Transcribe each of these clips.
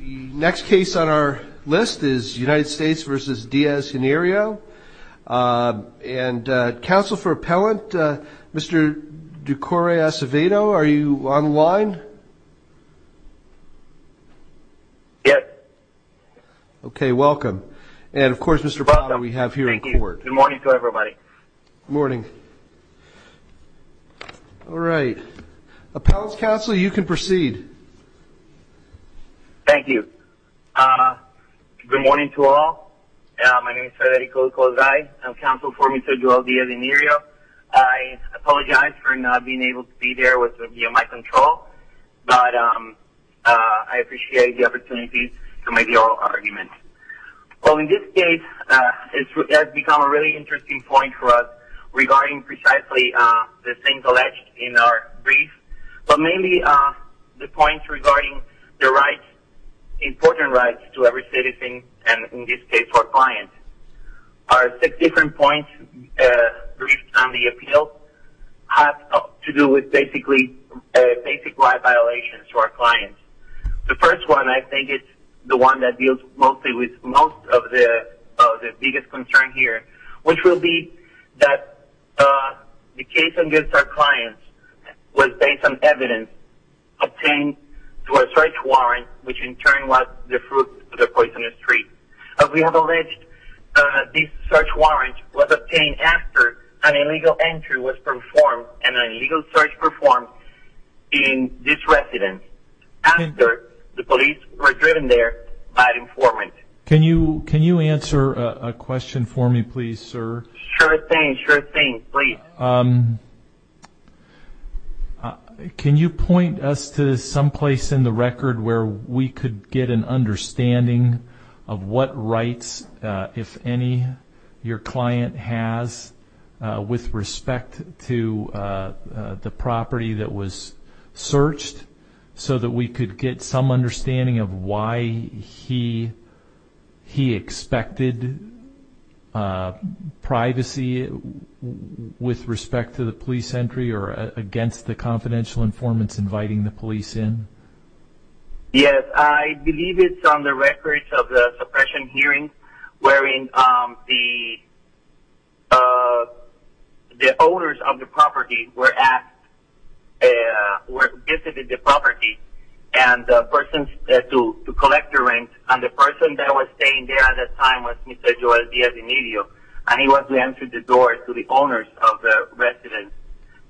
Next case on our list is United States v. Diaz-Hinirio. And counsel for appellant, Mr. DuCorey Acevedo, are you on the line? Yes. Okay, welcome. And, of course, Mr. Bonner, we have here in court. Good morning to everybody. Good morning. All right. Appellant's counsel, you can proceed. Thank you. Good morning to all. My name is Federico Cozai. I'm counsel for Mr. DuCorey Diaz-Hinirio. I apologize for not being able to be there via my control, but I appreciate the opportunity to make the oral argument. Well, in this case, it has become a really interesting point for us regarding precisely the things alleged in our brief, but mainly the points regarding the rights, important rights to every citizen and, in this case, our clients. Our six different points briefed on the appeal have to do with basically basic right violations to our clients. The first one, I think, is the one that deals mostly with most of the biggest concern here, which will be that the case against our clients was based on evidence obtained through a search warrant, which in turn was the fruit of the poisonous tree. We have alleged this search warrant was obtained after an illegal entry was performed and an illegal search performed in this residence. After the police were driven there by an informant. Can you answer a question for me, please, sir? Sure thing. Sure thing. Please. Can you point us to someplace in the record where we could get an understanding of what rights, if any, your client has with respect to the property that was searched? So that we could get some understanding of why he expected privacy with respect to the police entry or against the confidential informants inviting the police in? Yes, I believe it's on the records of the suppression hearing where the owners of the property visited the property to collect their rent. And the person that was staying there at that time was Mr. Joel Diaz-Emilio. And he went to answer the door to the owners of the residence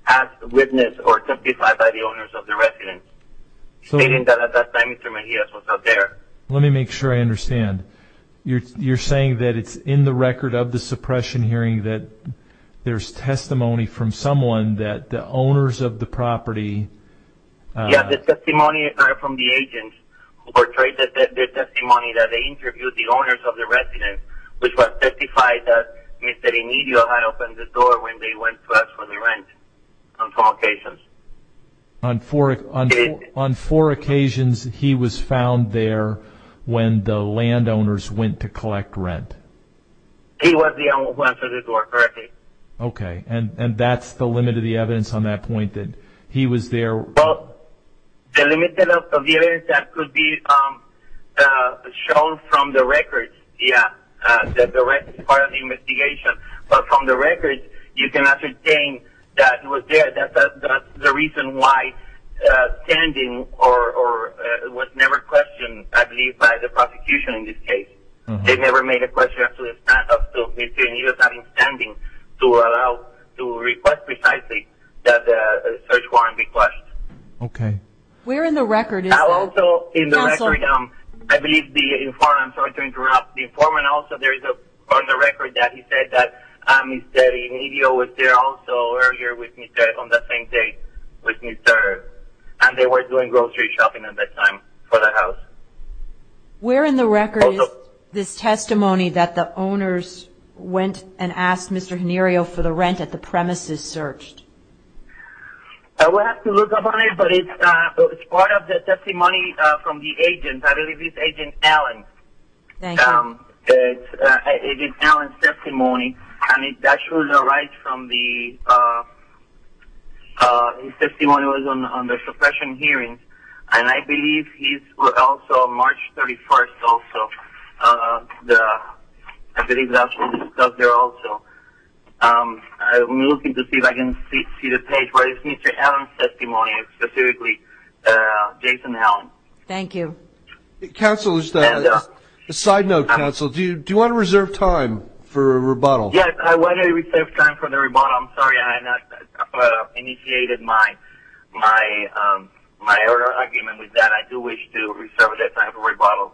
as witnessed or testified by the owners of the residence, stating that at that time Mr. Mejia was out there. Let me make sure I understand. You're saying that it's in the record of the suppression hearing that there's testimony from someone that the owners of the property... Yes, the testimony from the agent who portrayed the testimony that they interviewed the owners of the residence, which was testified that Mr. Emilio had opened the door when they went to ask for the rent on four occasions. On four occasions he was found there when the landowners went to collect rent? He was the one who answered the door correctly. Okay, and that's the limit of the evidence on that point, that he was there... Well, the limit of the evidence that could be shown from the records, yes, that the rent is part of the investigation. But from the records you can ascertain that he was there. That's the reason why standing was never questioned, I believe, by the prosecution in this case. They never made a question of Mr. Emilio having standing to request precisely the search warrant request. Okay. Where in the record is that? I believe the informant... I'm sorry to interrupt. The informant also, there is on the record that he said that Mr. Emilio was there also earlier with Mr. on the same date with Mr., and they were doing grocery shopping at that time for the house. Where in the record is this testimony that the owners went and asked Mr. Henirio for the rent at the premises searched? We'll have to look up on it, but it's part of the testimony from the agent. I believe it's Agent Allen. Thank you. It's Agent Allen's testimony, and it actually derives from the testimony that was on the suppression hearings, and I believe he's also March 31st also. I believe that was also discussed there also. I'm looking to see if I can see the page where it's Mr. Allen's testimony, specifically Jason Allen. Thank you. Counsel, just a side note. Counsel, do you want to reserve time for a rebuttal? Yes, I want to reserve time for the rebuttal. I'm sorry I have not initiated my earlier argument with that. I do wish to reserve that time for rebuttal.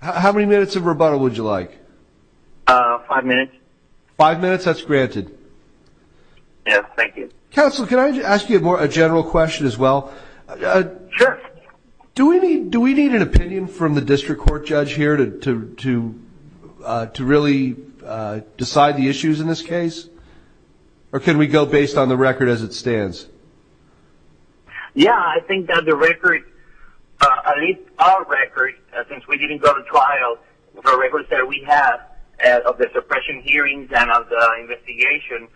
How many minutes of rebuttal would you like? Five minutes. Five minutes? That's granted. Yes, thank you. Counsel, can I ask you a general question as well? Sure. Do we need an opinion from the district court judge here to really decide the issues in this case, or can we go based on the record as it stands? Yes, I think that the record, at least our record, since we didn't go to trial, the records that we have of the suppression hearings and of the investigation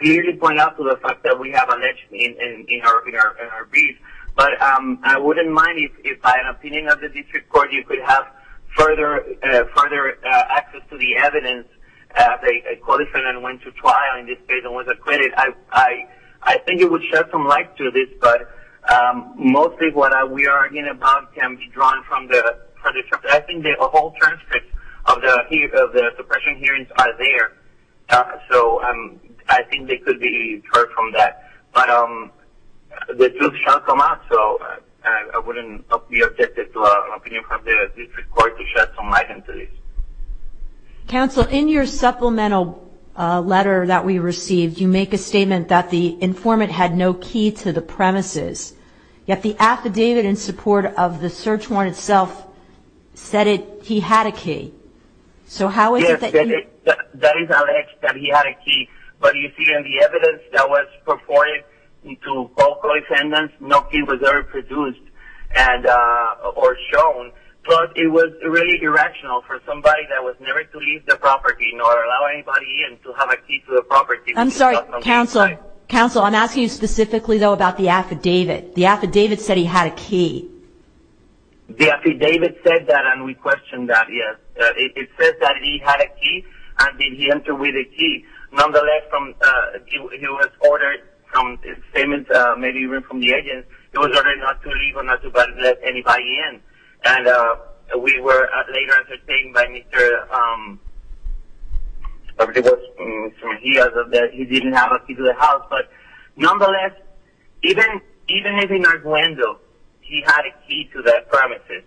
clearly point out to the fact that we have an issue in our brief. But I wouldn't mind if, by an opinion of the district court, you could have further access to the evidence. They qualified and went to trial in this case and was acquitted. I think it would shed some light to this, but mostly what we are arguing about can be drawn from the transcripts. I think the whole transcripts of the suppression hearings are there, so I think they could be heard from that. But the truth shall come out, so I wouldn't be objective to an opinion from the district court to shed some light into this. Counsel, in your supplemental letter that we received, you make a statement that the informant had no key to the premises, yet the affidavit in support of the search warrant itself said he had a key. Yes, that is alleged that he had a key, but you see in the evidence that was purported to all co-defendants, no key was ever produced or shown. But it was really irrational for somebody that was never to leave the property nor allow anybody to have a key to the property. Counsel, I'm asking you specifically, though, about the affidavit. The affidavit said he had a key. The affidavit said that, and we question that, yes. It says that he had a key, and then he entered with a key. Nonetheless, he was ordered, maybe even from the agent, he was ordered not to leave or not to let anybody in. And we were later entertained by Mr. Mejia that he didn't have a key to the house. But nonetheless, even if in Arduendo he had a key to the premises,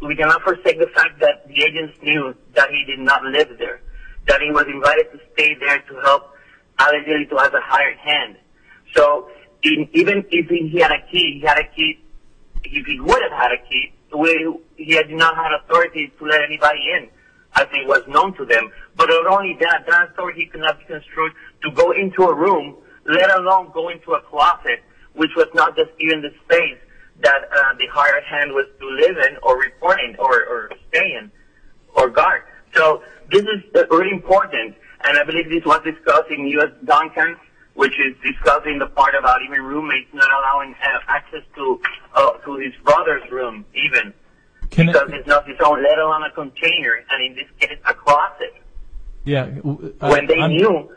we cannot forsake the fact that the agents knew that he did not live there, that he was invited to stay there to help allegedly to have a hired hand. So even if he had a key, if he would have had a key, he did not have authority to let anybody in, as it was known to them. But not only that, that authority could not be construed to go into a room, let alone go into a closet, which was not just even the space that the hired hand was to live in or report in or stay in or guard. So this is really important, and I believe this was discussed in U.S. Duncan, which is discussing the part about even roommates not allowing access to his brother's room even, because it's not his own, let alone a container, and in this case a closet. When they knew,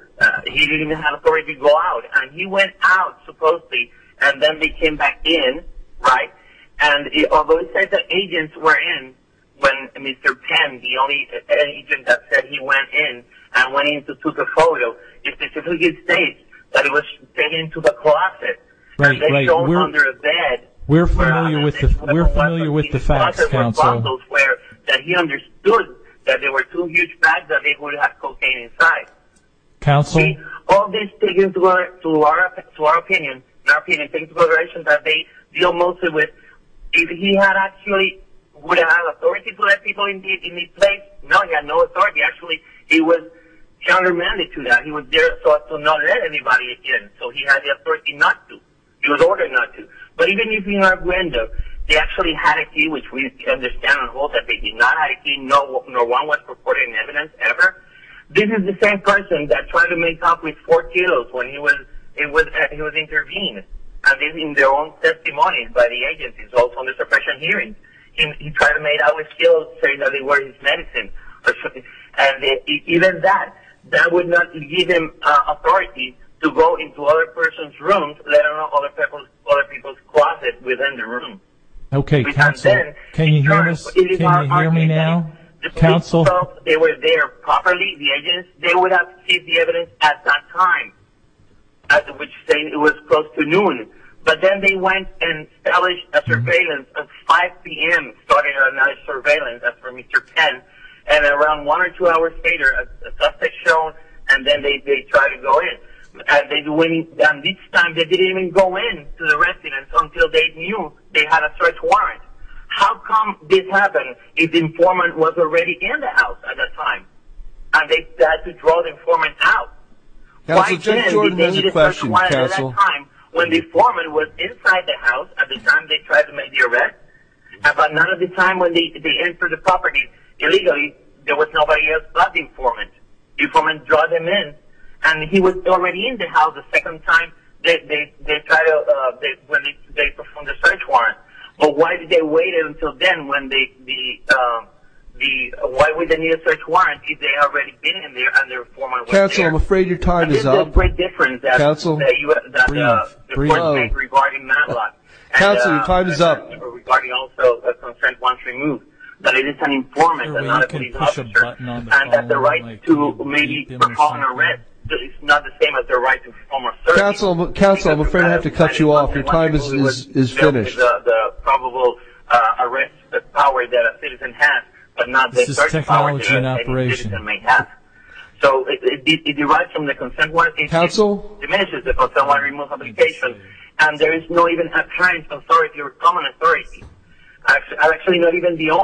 he didn't even have authority to go out. And he went out, supposedly, and then they came back in, right? And although he said that agents were in when Mr. Penn, the only agent that said he went in and went in to take a photo, it specifically states that he was taken to the closet. Right, right. And they were all under a bed. We're familiar with the facts, Counsel. That he understood that there were two huge bags that they would have cocaine inside. Counsel? All these things were, to our opinion, things that they deal mostly with, if he actually would have had authority to let people in his place, no, he had no authority. Actually, he was countermanded to that. He was there so as to not let anybody in. So he had the authority not to. He was ordered not to. But even if he had a window, he actually had a key, which we understand and hope that they did not have a key. No one was reported in evidence ever. This is the same person that tried to make out with four kilos when he was intervened. And this is in their own testimony by the agents as well from the suppression hearings. He tried to make out with kilos saying that they were his medicine. And even that, that would not give him authority to go into other persons' rooms, let alone other people's closets within the room. Okay, Counsel, can you hear me now? Counsel? They were there properly, the agents. They would have seen the evidence at that time, which is saying it was close to noon. But then they went and established a surveillance at 5 p.m., started another surveillance after Mr. Penn, and around one or two hours later, the suspect showed, and then they tried to go in. And this time they didn't even go in to the residence until they knew they had a search warrant. How come this happened if the informant was already in the house at that time and they had to draw the informant out? Counsel, Jay Jordan has a question, Counsel. Why then did they need a search warrant at that time when the informant was inside the house at the time they tried to make the arrest? At another time when they entered the property illegally, there was nobody else but the informant. The informant drawed them in, and he was already in the house the second time they performed the search warrant. But why did they wait until then? Why would they need a search warrant if they had already been in there and the informant was there? Counsel, I'm afraid your time is up. Counsel, your time is up. Counsel, your time is up. Counsel, Counsel, I'm afraid I have to cut you off. Counsel, your time is finished. This is technology in operation. Counsel?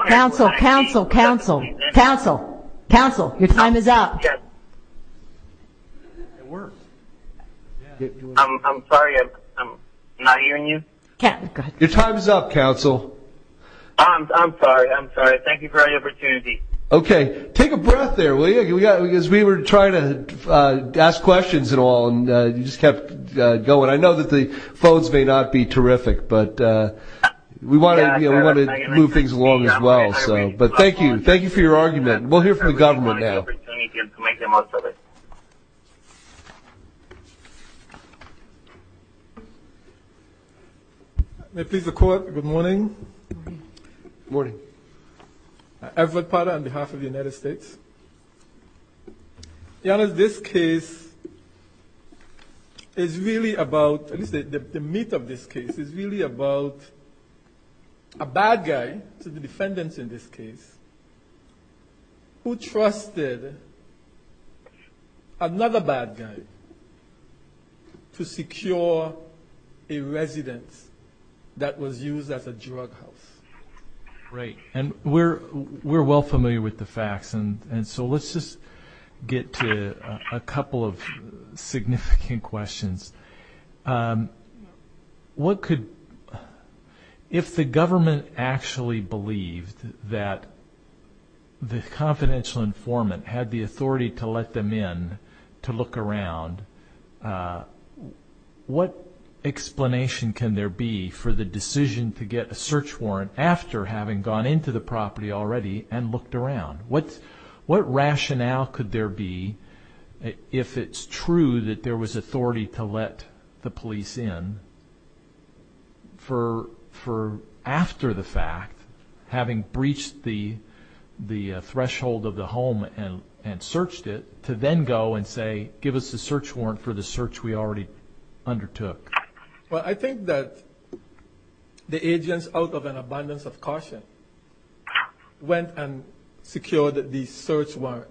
Counsel, Counsel, Counsel, Counsel, Counsel, your time is up. I'm sorry, I'm not hearing you. Your time is up, Counsel. I'm sorry, I'm sorry. Thank you for the opportunity. Okay. Take a breath there, will you? Because we were trying to ask questions and all, and you just kept going. I know that the phones may not be terrific, but we wanted to move things along as well. But thank you. Thank you for your argument. We'll hear from the government now. Thank you for the opportunity to make the most of it. May it please the Court, good morning. Good morning. Good morning. Everett Potter on behalf of the United States. Your Honor, this case is really about, at least the meat of this case, is really about a bad guy to the defendants in this case who trusted another bad guy to secure a residence that was used as a drug house. Right. And we're well familiar with the facts, and so let's just get to a couple of significant questions. What could, if the government actually believed that the confidential informant had the authority to let them in to look around, what explanation can there be for the decision to get a search warrant after having gone into the property already and looked around? What rationale could there be, if it's true that there was authority to let the police in, for after the fact, having breached the threshold of the home and searched it, to then go and say, give us a search warrant for the search we already undertook? Well, I think that the agents, out of an abundance of caution, went and secured the search warrant.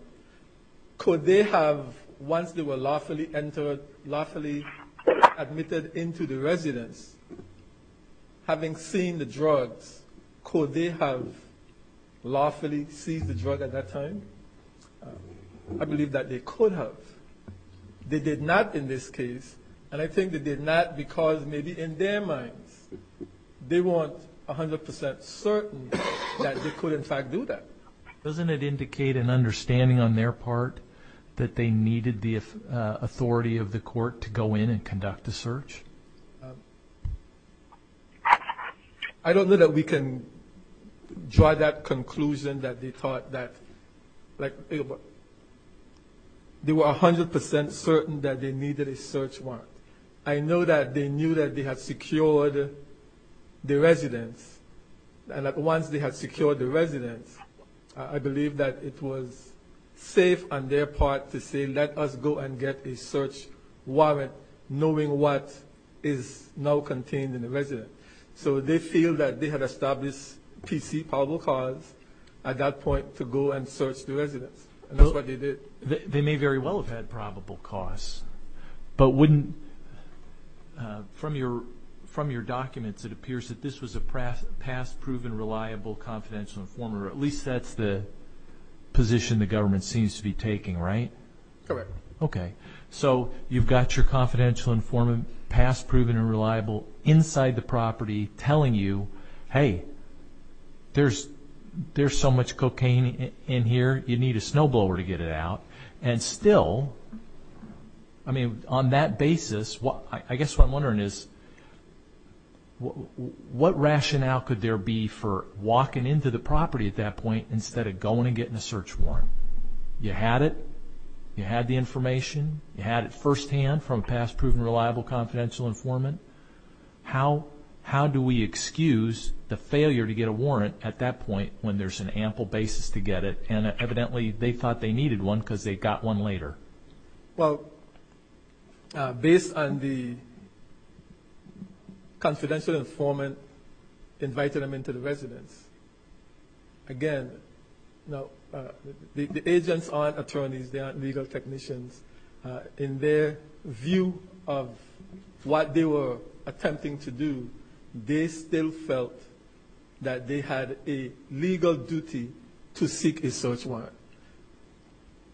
Could they have, once they were lawfully entered, lawfully admitted into the residence, having seen the drugs, could they have lawfully seized the drug at that time? I believe that they could have. They did not in this case, and I think they did not because maybe in their minds, they weren't 100 percent certain that they could, in fact, do that. Doesn't it indicate an understanding on their part that they needed the authority of the court to go in and conduct a search? I don't know that we can draw that conclusion that they thought that, like, they were 100 percent certain that they needed a search warrant. I know that they knew that they had secured the residence, and that once they had secured the residence, I believe that it was safe on their part to say, let us go and get a search warrant, knowing what is now contained in the residence. So they feel that they had established PC probable cause at that point to go and search the residence. And that's what they did. They may very well have had probable cause. But from your documents, it appears that this was a past proven reliable confidential informer. At least that's the position the government seems to be taking, right? Correct. Okay. So you've got your confidential informant, past proven and reliable, inside the property telling you, hey, there's so much cocaine in here, you need a snowblower to get it out. And still, I mean, on that basis, I guess what I'm wondering is, what rationale could there be for walking into the property at that point instead of going and getting a search warrant? You had it. You had the information. You had it firsthand from a past proven reliable confidential informant. How do we excuse the failure to get a warrant at that point when there's an ample basis to get it? And evidently they thought they needed one because they got one later. Well, based on the confidential informant inviting them into the residence, again, the agents aren't attorneys. They aren't legal technicians. In their view of what they were attempting to do, they still felt that they had a legal duty to seek a search warrant.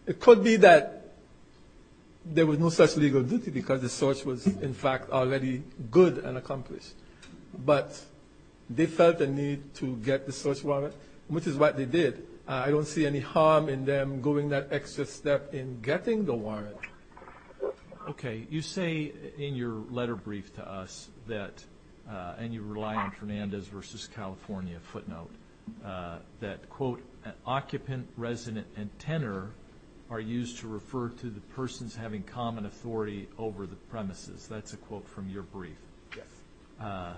It could be that there was no such legal duty because the search was, in fact, already good and accomplished. But they felt the need to get the search warrant, which is what they did. I don't see any harm in them going that extra step in getting the warrant. Okay. You say in your letter brief to us that, and you rely on Fernandez versus California footnote, that, quote, an occupant, resident, and tenor are used to refer to the persons having common authority over the premises. That's a quote from your brief. Yes.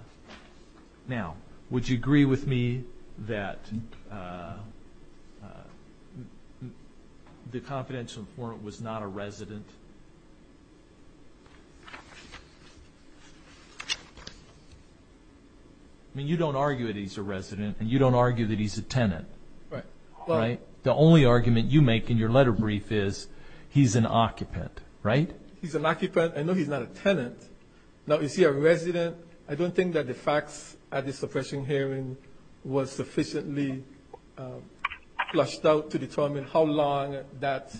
Now, would you agree with me that the confidential informant was not a resident? I mean, you don't argue that he's a resident, and you don't argue that he's a tenant. Right. Right? The only argument you make in your letter brief is he's an occupant, right? He's an occupant. I know he's not a tenant. Now, is he a resident? I don't think that the facts at the suppression hearing were sufficiently flushed out to determine how long that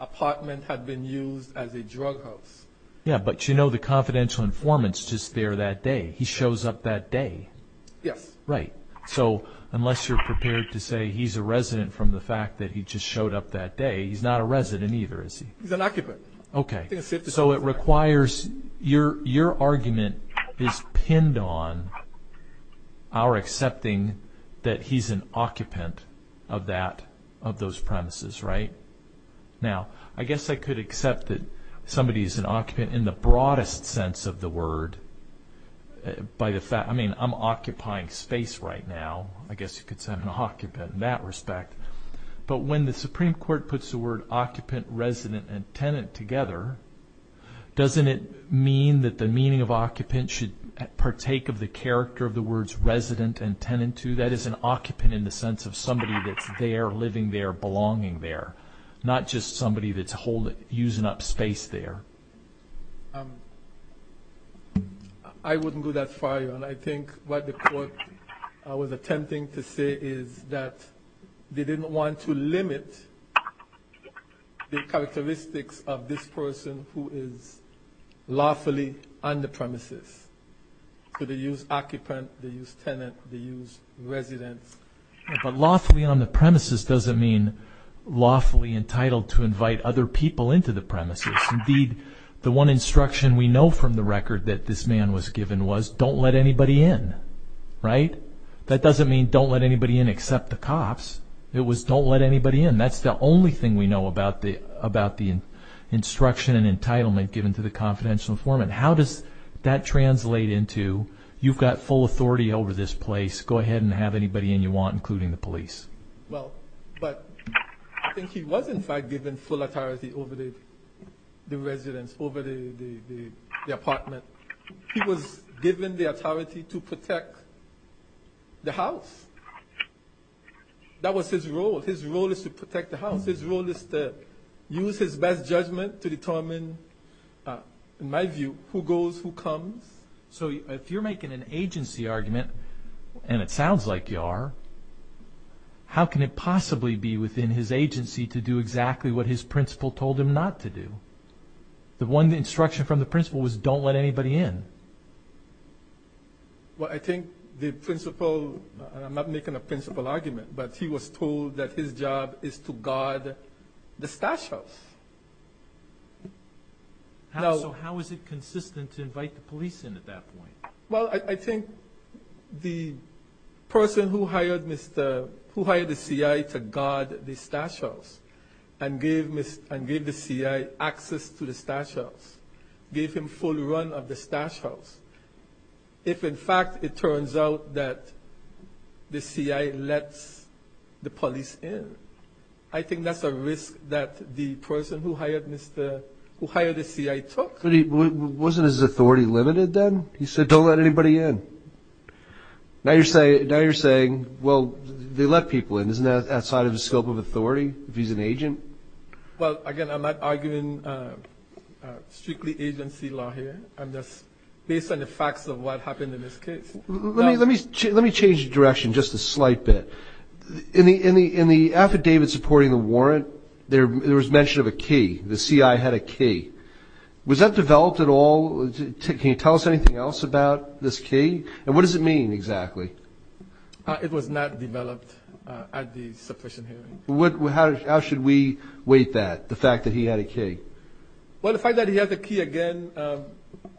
apartment had been used as a drug house. Yeah, but you know the confidential informant's just there that day. He shows up that day. Yes. Right. So unless you're prepared to say he's a resident from the fact that he just showed up that day, he's not a resident either, is he? He's an occupant. Okay. So it requires your argument is pinned on our accepting that he's an occupant of those premises, right? Now, I guess I could accept that somebody is an occupant in the broadest sense of the word. I mean, I'm occupying space right now. I guess you could say I'm an occupant in that respect. But when the Supreme Court puts the word occupant, resident, and tenant together, doesn't it mean that the meaning of occupant should partake of the character of the words resident and tenant too? That is an occupant in the sense of somebody that's there, living there, belonging there, not just somebody that's using up space there. I wouldn't go that far. And I think what the court was attempting to say is that they didn't want to limit the characteristics of this person who is lawfully on the premises. So they use occupant, they use tenant, they use resident. But lawfully on the premises doesn't mean lawfully entitled to invite other people into the premises. Indeed, the one instruction we know from the record that this man was given was don't let anybody in, right? That doesn't mean don't let anybody in except the cops. It was don't let anybody in. That's the only thing we know about the instruction and entitlement given to the confidential informant. How does that translate into you've got full authority over this place. Go ahead and have anybody in you want, including the police. But I think he was in fact given full authority over the residence, over the apartment. He was given the authority to protect the house. That was his role. His role is to protect the house. His role is to use his best judgment to determine, in my view, who goes, who comes. So if you're making an agency argument, and it sounds like you are, how can it possibly be within his agency to do exactly what his principal told him not to do? The one instruction from the principal was don't let anybody in. Well, I think the principal, and I'm not making a principal argument, but he was told that his job is to guard the stash house. So how is it consistent to invite the police in at that point? Well, I think the person who hired the C.I. to guard the stash house and gave the C.I. access to the stash house, gave him full run of the stash house, if in fact it turns out that the C.I. lets the police in, I think that's a risk that the person who hired the C.I. took. Wasn't his authority limited then? He said don't let anybody in. Now you're saying, well, they let people in. Isn't that outside of the scope of authority if he's an agent? Well, again, I'm not arguing strictly agency law here. I'm just based on the facts of what happened in this case. Let me change direction just a slight bit. In the affidavit supporting the warrant, there was mention of a key. The C.I. had a key. Was that developed at all? Can you tell us anything else about this key, and what does it mean exactly? It was not developed at the suppression hearing. How should we weight that, the fact that he had a key? Well, the fact that he had the key, again,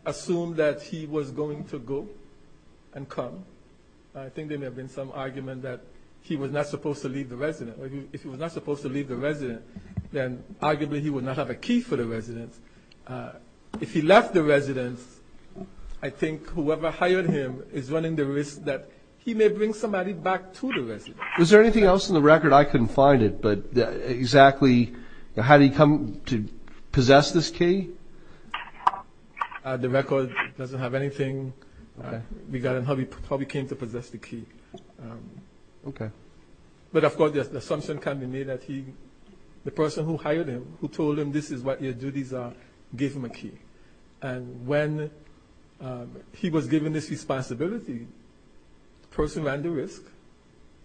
assumed that he was going to go and come. I think there may have been some argument that he was not supposed to leave the residence. If he was not supposed to leave the residence, then arguably he would not have a key for the residence. If he left the residence, I think whoever hired him is running the risk that he may bring somebody back to the residence. Was there anything else in the record? I couldn't find it, but exactly had he come to possess this key? The record doesn't have anything regarding how he came to possess the key. Okay. But, of course, the assumption can be made that the person who hired him, who told him this is what your duties are, gave him a key. And when he was given this responsibility, the person ran the risk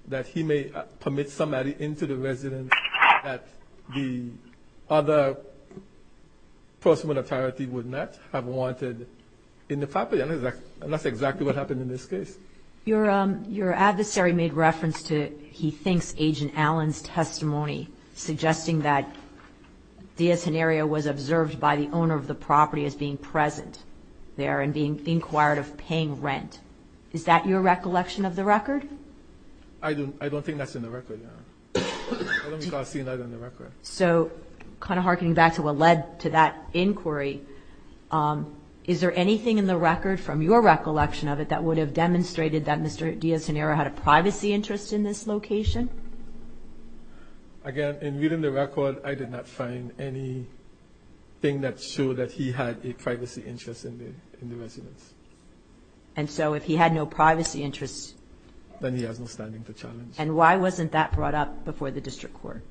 that he may permit somebody into the residence that the other person with authority would not have wanted in the property. And that's exactly what happened in this case. Your adversary made reference to, he thinks, Agent Allen's testimony, suggesting that Diaz-Heniria was observed by the owner of the property as being present there and being inquired of paying rent. Is that your recollection of the record? I don't think that's in the record. I don't recall seeing that in the record. So kind of harkening back to what led to that inquiry, is there anything in the record, from your recollection of it, that would have demonstrated that Mr. Diaz-Heniria had a privacy interest in this location? Again, in reading the record, I did not find anything that showed that he had a privacy interest in the residence. And so if he had no privacy interest... Then he has no standing to challenge. And why wasn't that brought up before the district court?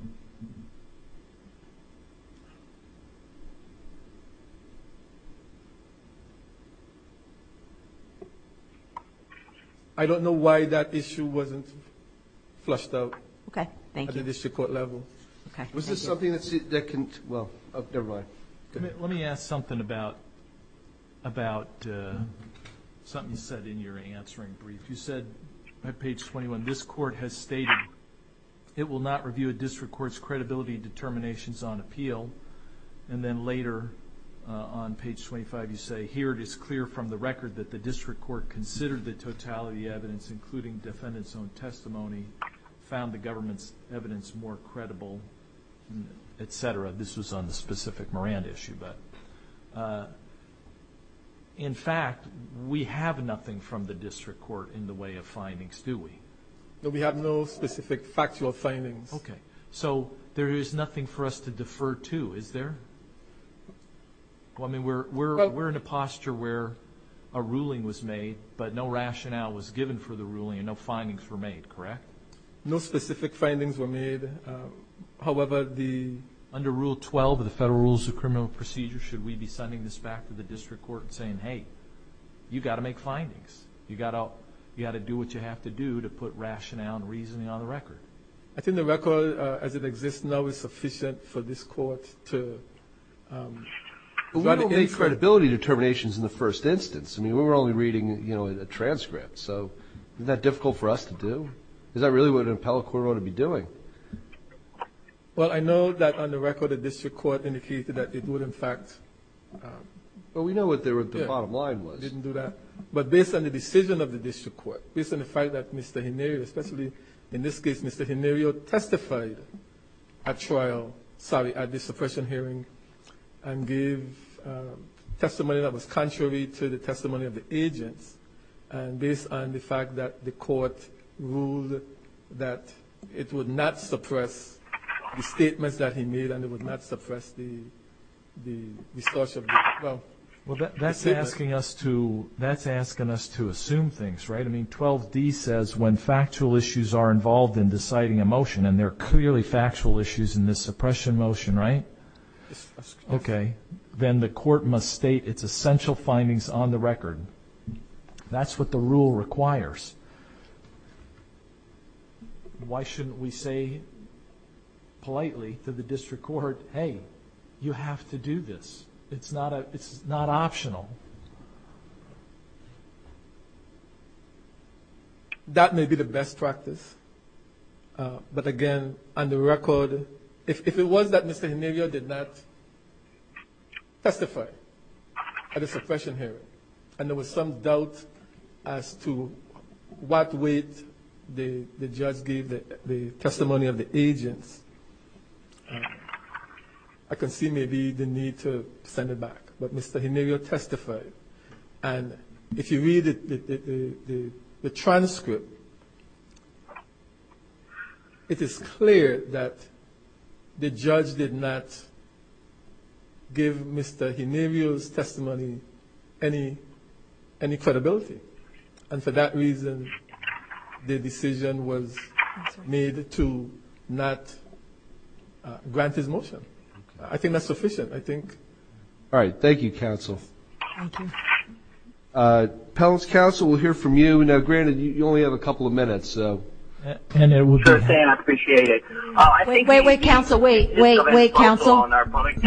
I don't know why that issue wasn't flushed out. Okay, thank you. At the district court level. Okay, thank you. Was there something that they can, well, they're right. Let me ask something about something you said in your answering brief. You said, at page 21, this court has stated, it will not review a district court's credibility determinations on appeal. And then later, on page 25, you say, here it is clear from the record that the district court considered the totality evidence, including defendant's own testimony, found the government's evidence more credible, et cetera. This was on the specific Moran issue. In fact, we have nothing from the district court in the way of findings, do we? No, we have no specific factual findings. Okay. So there is nothing for us to defer to, is there? I mean, we're in a posture where a ruling was made, but no rationale was given for the ruling and no findings were made, correct? No specific findings were made. However, under Rule 12 of the Federal Rules of Criminal Procedure, should we be sending this back to the district court and saying, hey, you've got to make findings, you've got to do what you have to do to put rationale and reasoning on the record? I think the record as it exists now is sufficient for this court to try to answer. But we don't make credibility determinations in the first instance. I mean, we're only reading a transcript. So isn't that difficult for us to do? Is that really what an appellate court ought to be doing? Well, I know that on the record the district court indicated that it would, in fact. Well, we know what the bottom line was. Didn't do that. But based on the decision of the district court, based on the fact that Mr. Henario, especially in this case, Mr. Henario testified at trial, sorry, at the suppression hearing and gave testimony that was contrary to the testimony of the agents, and based on the fact that the court ruled that it would not suppress the statements that he made and it would not suppress the discussion. Well, that's asking us to assume things, right? I mean, 12D says when factual issues are involved in deciding a motion, and there are clearly factual issues in this suppression motion, right? Yes. Okay. Then the court must state its essential findings on the record. That's what the rule requires. Why shouldn't we say politely to the district court, hey, you have to do this? It's not optional. That may be the best practice. But, again, on the record, if it was that Mr. Henario did not testify at the suppression hearing and there was some doubt as to what weight the judge gave the testimony of the agents, I can see maybe the need to send it back. But Mr. Henario testified. And if you read the transcript, it is clear that the judge did not give Mr. Henario's testimony any credibility. And for that reason, the decision was made to not grant his motion. I think that's sufficient. All right. Thank you, counsel. Thank you. Counsel, we'll hear from you. Now, granted, you only have a couple of minutes, so. I appreciate it. Wait, wait, counsel, wait. Wait, wait, counsel.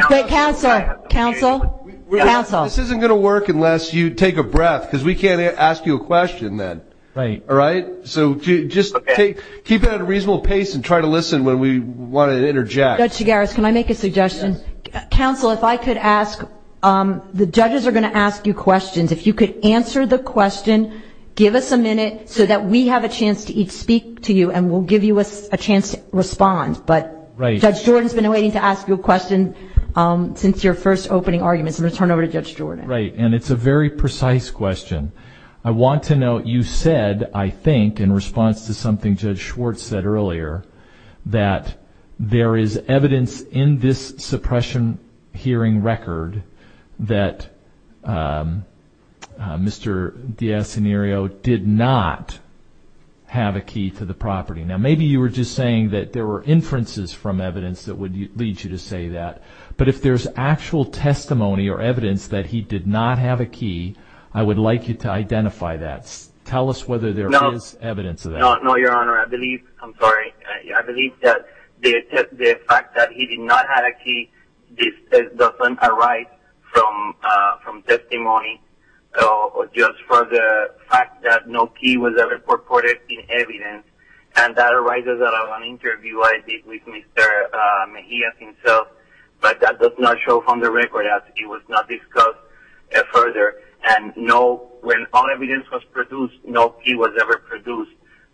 Wait, counsel. Counsel. Counsel. This isn't going to work unless you take a breath, because we can't ask you a question then. Right. All right? So just keep it at a reasonable pace and try to listen when we want to interject. Judge Chigares, can I make a suggestion? Yes. Counsel, if I could ask, the judges are going to ask you questions. If you could answer the question, give us a minute so that we have a chance to each speak to you, and we'll give you a chance to respond. But Judge Jordan has been waiting to ask you a question since your first opening arguments. I'm going to turn it over to Judge Jordan. Right. And it's a very precise question. I want to note you said, I think, in response to something Judge Schwartz said earlier, that there is evidence in this suppression hearing record that Mr. DiIascenerio did not have a key to the property. Now, maybe you were just saying that there were inferences from evidence that would lead you to say that. But if there's actual testimony or evidence that he did not have a key, I would like you to identify that. Tell us whether there is evidence of that. No, Your Honor. I believe that the fact that he did not have a key doesn't arise from testimony, just for the fact that no key was ever reported in evidence. And that arises out of an interview I did with Mr. Mejia himself, but that does not show from the record that it was not discussed further. And no, when all evidence was produced, no key was ever produced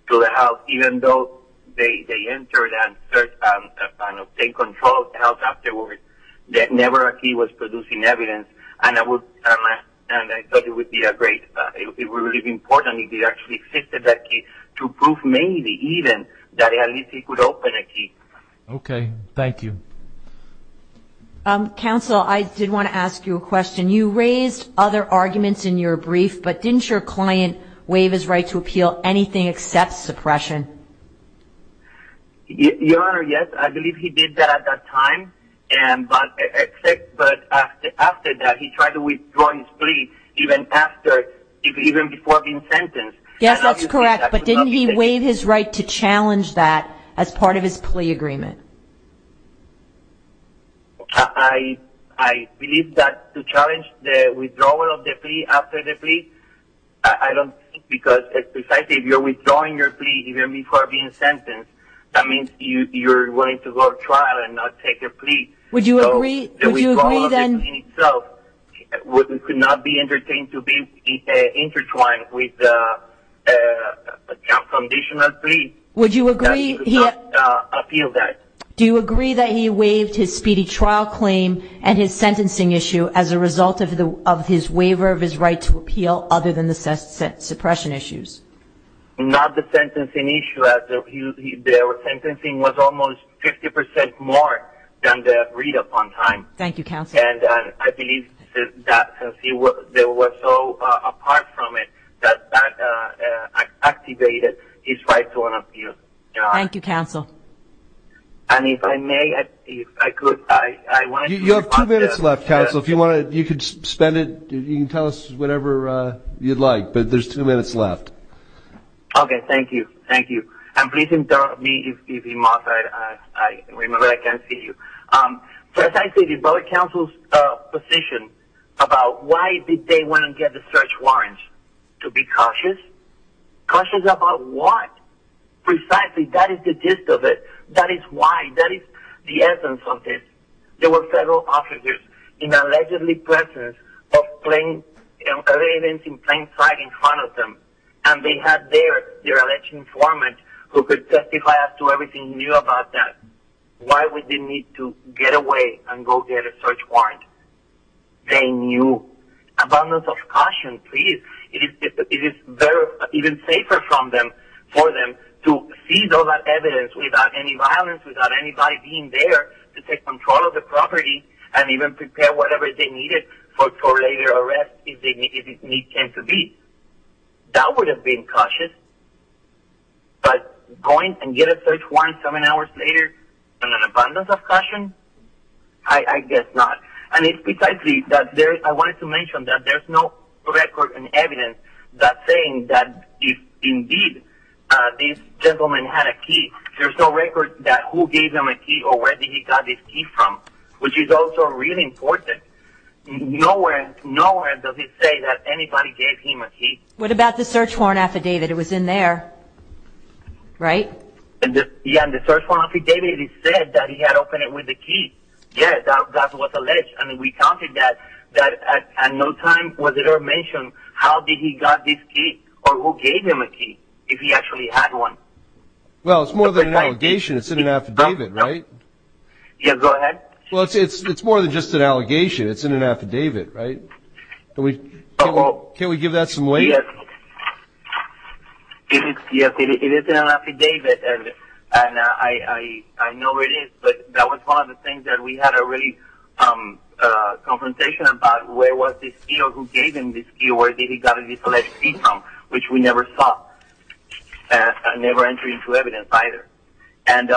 to the house, even though they entered and obtained control of the house afterwards, that never a key was produced in evidence. And I thought it would be really important if it actually existed, that key, to prove maybe even that at least he could open a key. Okay. Counsel, I did want to ask you a question. You raised other arguments in your brief, but didn't your client waive his right to appeal anything except suppression? Your Honor, yes, I believe he did that at that time, but after that he tried to withdraw his plea even before being sentenced. Yes, that's correct. But didn't he waive his right to challenge that as part of his plea agreement? I believe that to challenge the withdrawal of the plea after the plea, I don't think because if you're withdrawing your plea even before being sentenced, that means you're going to go to trial and not take your plea. Would you agree then? So the withdrawal of the plea itself could not be entertained to be intertwined with a confrontational plea. Would you agree he had to appeal that? Do you agree that he waived his speedy trial claim and his sentencing issue as a result of his waiver of his right to appeal, other than the suppression issues? Not the sentencing issue. Their sentencing was almost 50% more than the agreed upon time. Thank you, Counsel. And I believe that since they were so apart from it, that that activated his right to unappeal. Thank you, Counsel. And if I may, if I could, I wanted to respond to that. You have two minutes left, Counsel. If you want to, you could spend it. You can tell us whatever you'd like, but there's two minutes left. Okay. Thank you. Thank you. And please interrupt me if you must. I remember I can't see you. So as I see the public counsel's position about why did they want to get the search warrants, to be cautious? Cautious about what? Precisely. That is the gist of it. That is why. That is the essence of it. There were federal officers in the allegedly presence of plain evidence in plain sight in front of them, and they had their election informant who could testify as to everything he knew about that, why we didn't need to get away and go get a search warrant. They knew. Abundance of caution, please. It is even safer for them to seize all that evidence without any violence, without anybody being there to take control of the property and even prepare whatever they needed for later arrest if need came to be. That would have been cautious, but going and getting a search warrant seven hours later and an abundance of caution? I guess not. And it's precisely that I wanted to mention that there's no record and evidence that's saying that indeed this gentleman had a key. There's no record that who gave him a key or where he got this key from, which is also really important. Nowhere does it say that anybody gave him a key. What about the search warrant affidavit? It was in there, right? Yeah, in the search warrant affidavit it said that he had opened it with a key. Yeah, that was alleged, and we counted that, and no time was it ever mentioned how did he got this key or who gave him a key if he actually had one. Well, it's more than an allegation. It's in an affidavit, right? Yeah, go ahead. Well, it's more than just an allegation. It's in an affidavit, right? Can we give that some weight? Yes. Yes, it is in an affidavit, and I know it is, but that was one of the things that we had a really confrontation about, where was this key or who gave him this key, or where did he got this alleged key from, which we never saw and never entered into evidence either. And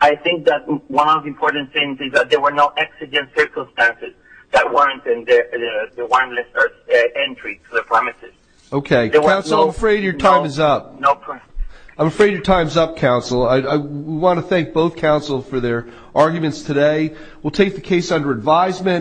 I think that one of the important things is that there were no accident circumstances that warranted the warrantless entry to the premises. Okay. Counsel, I'm afraid your time is up. I'm afraid your time is up, Counsel. I want to thank both Counsel for their arguments today. We'll take the case under advisement.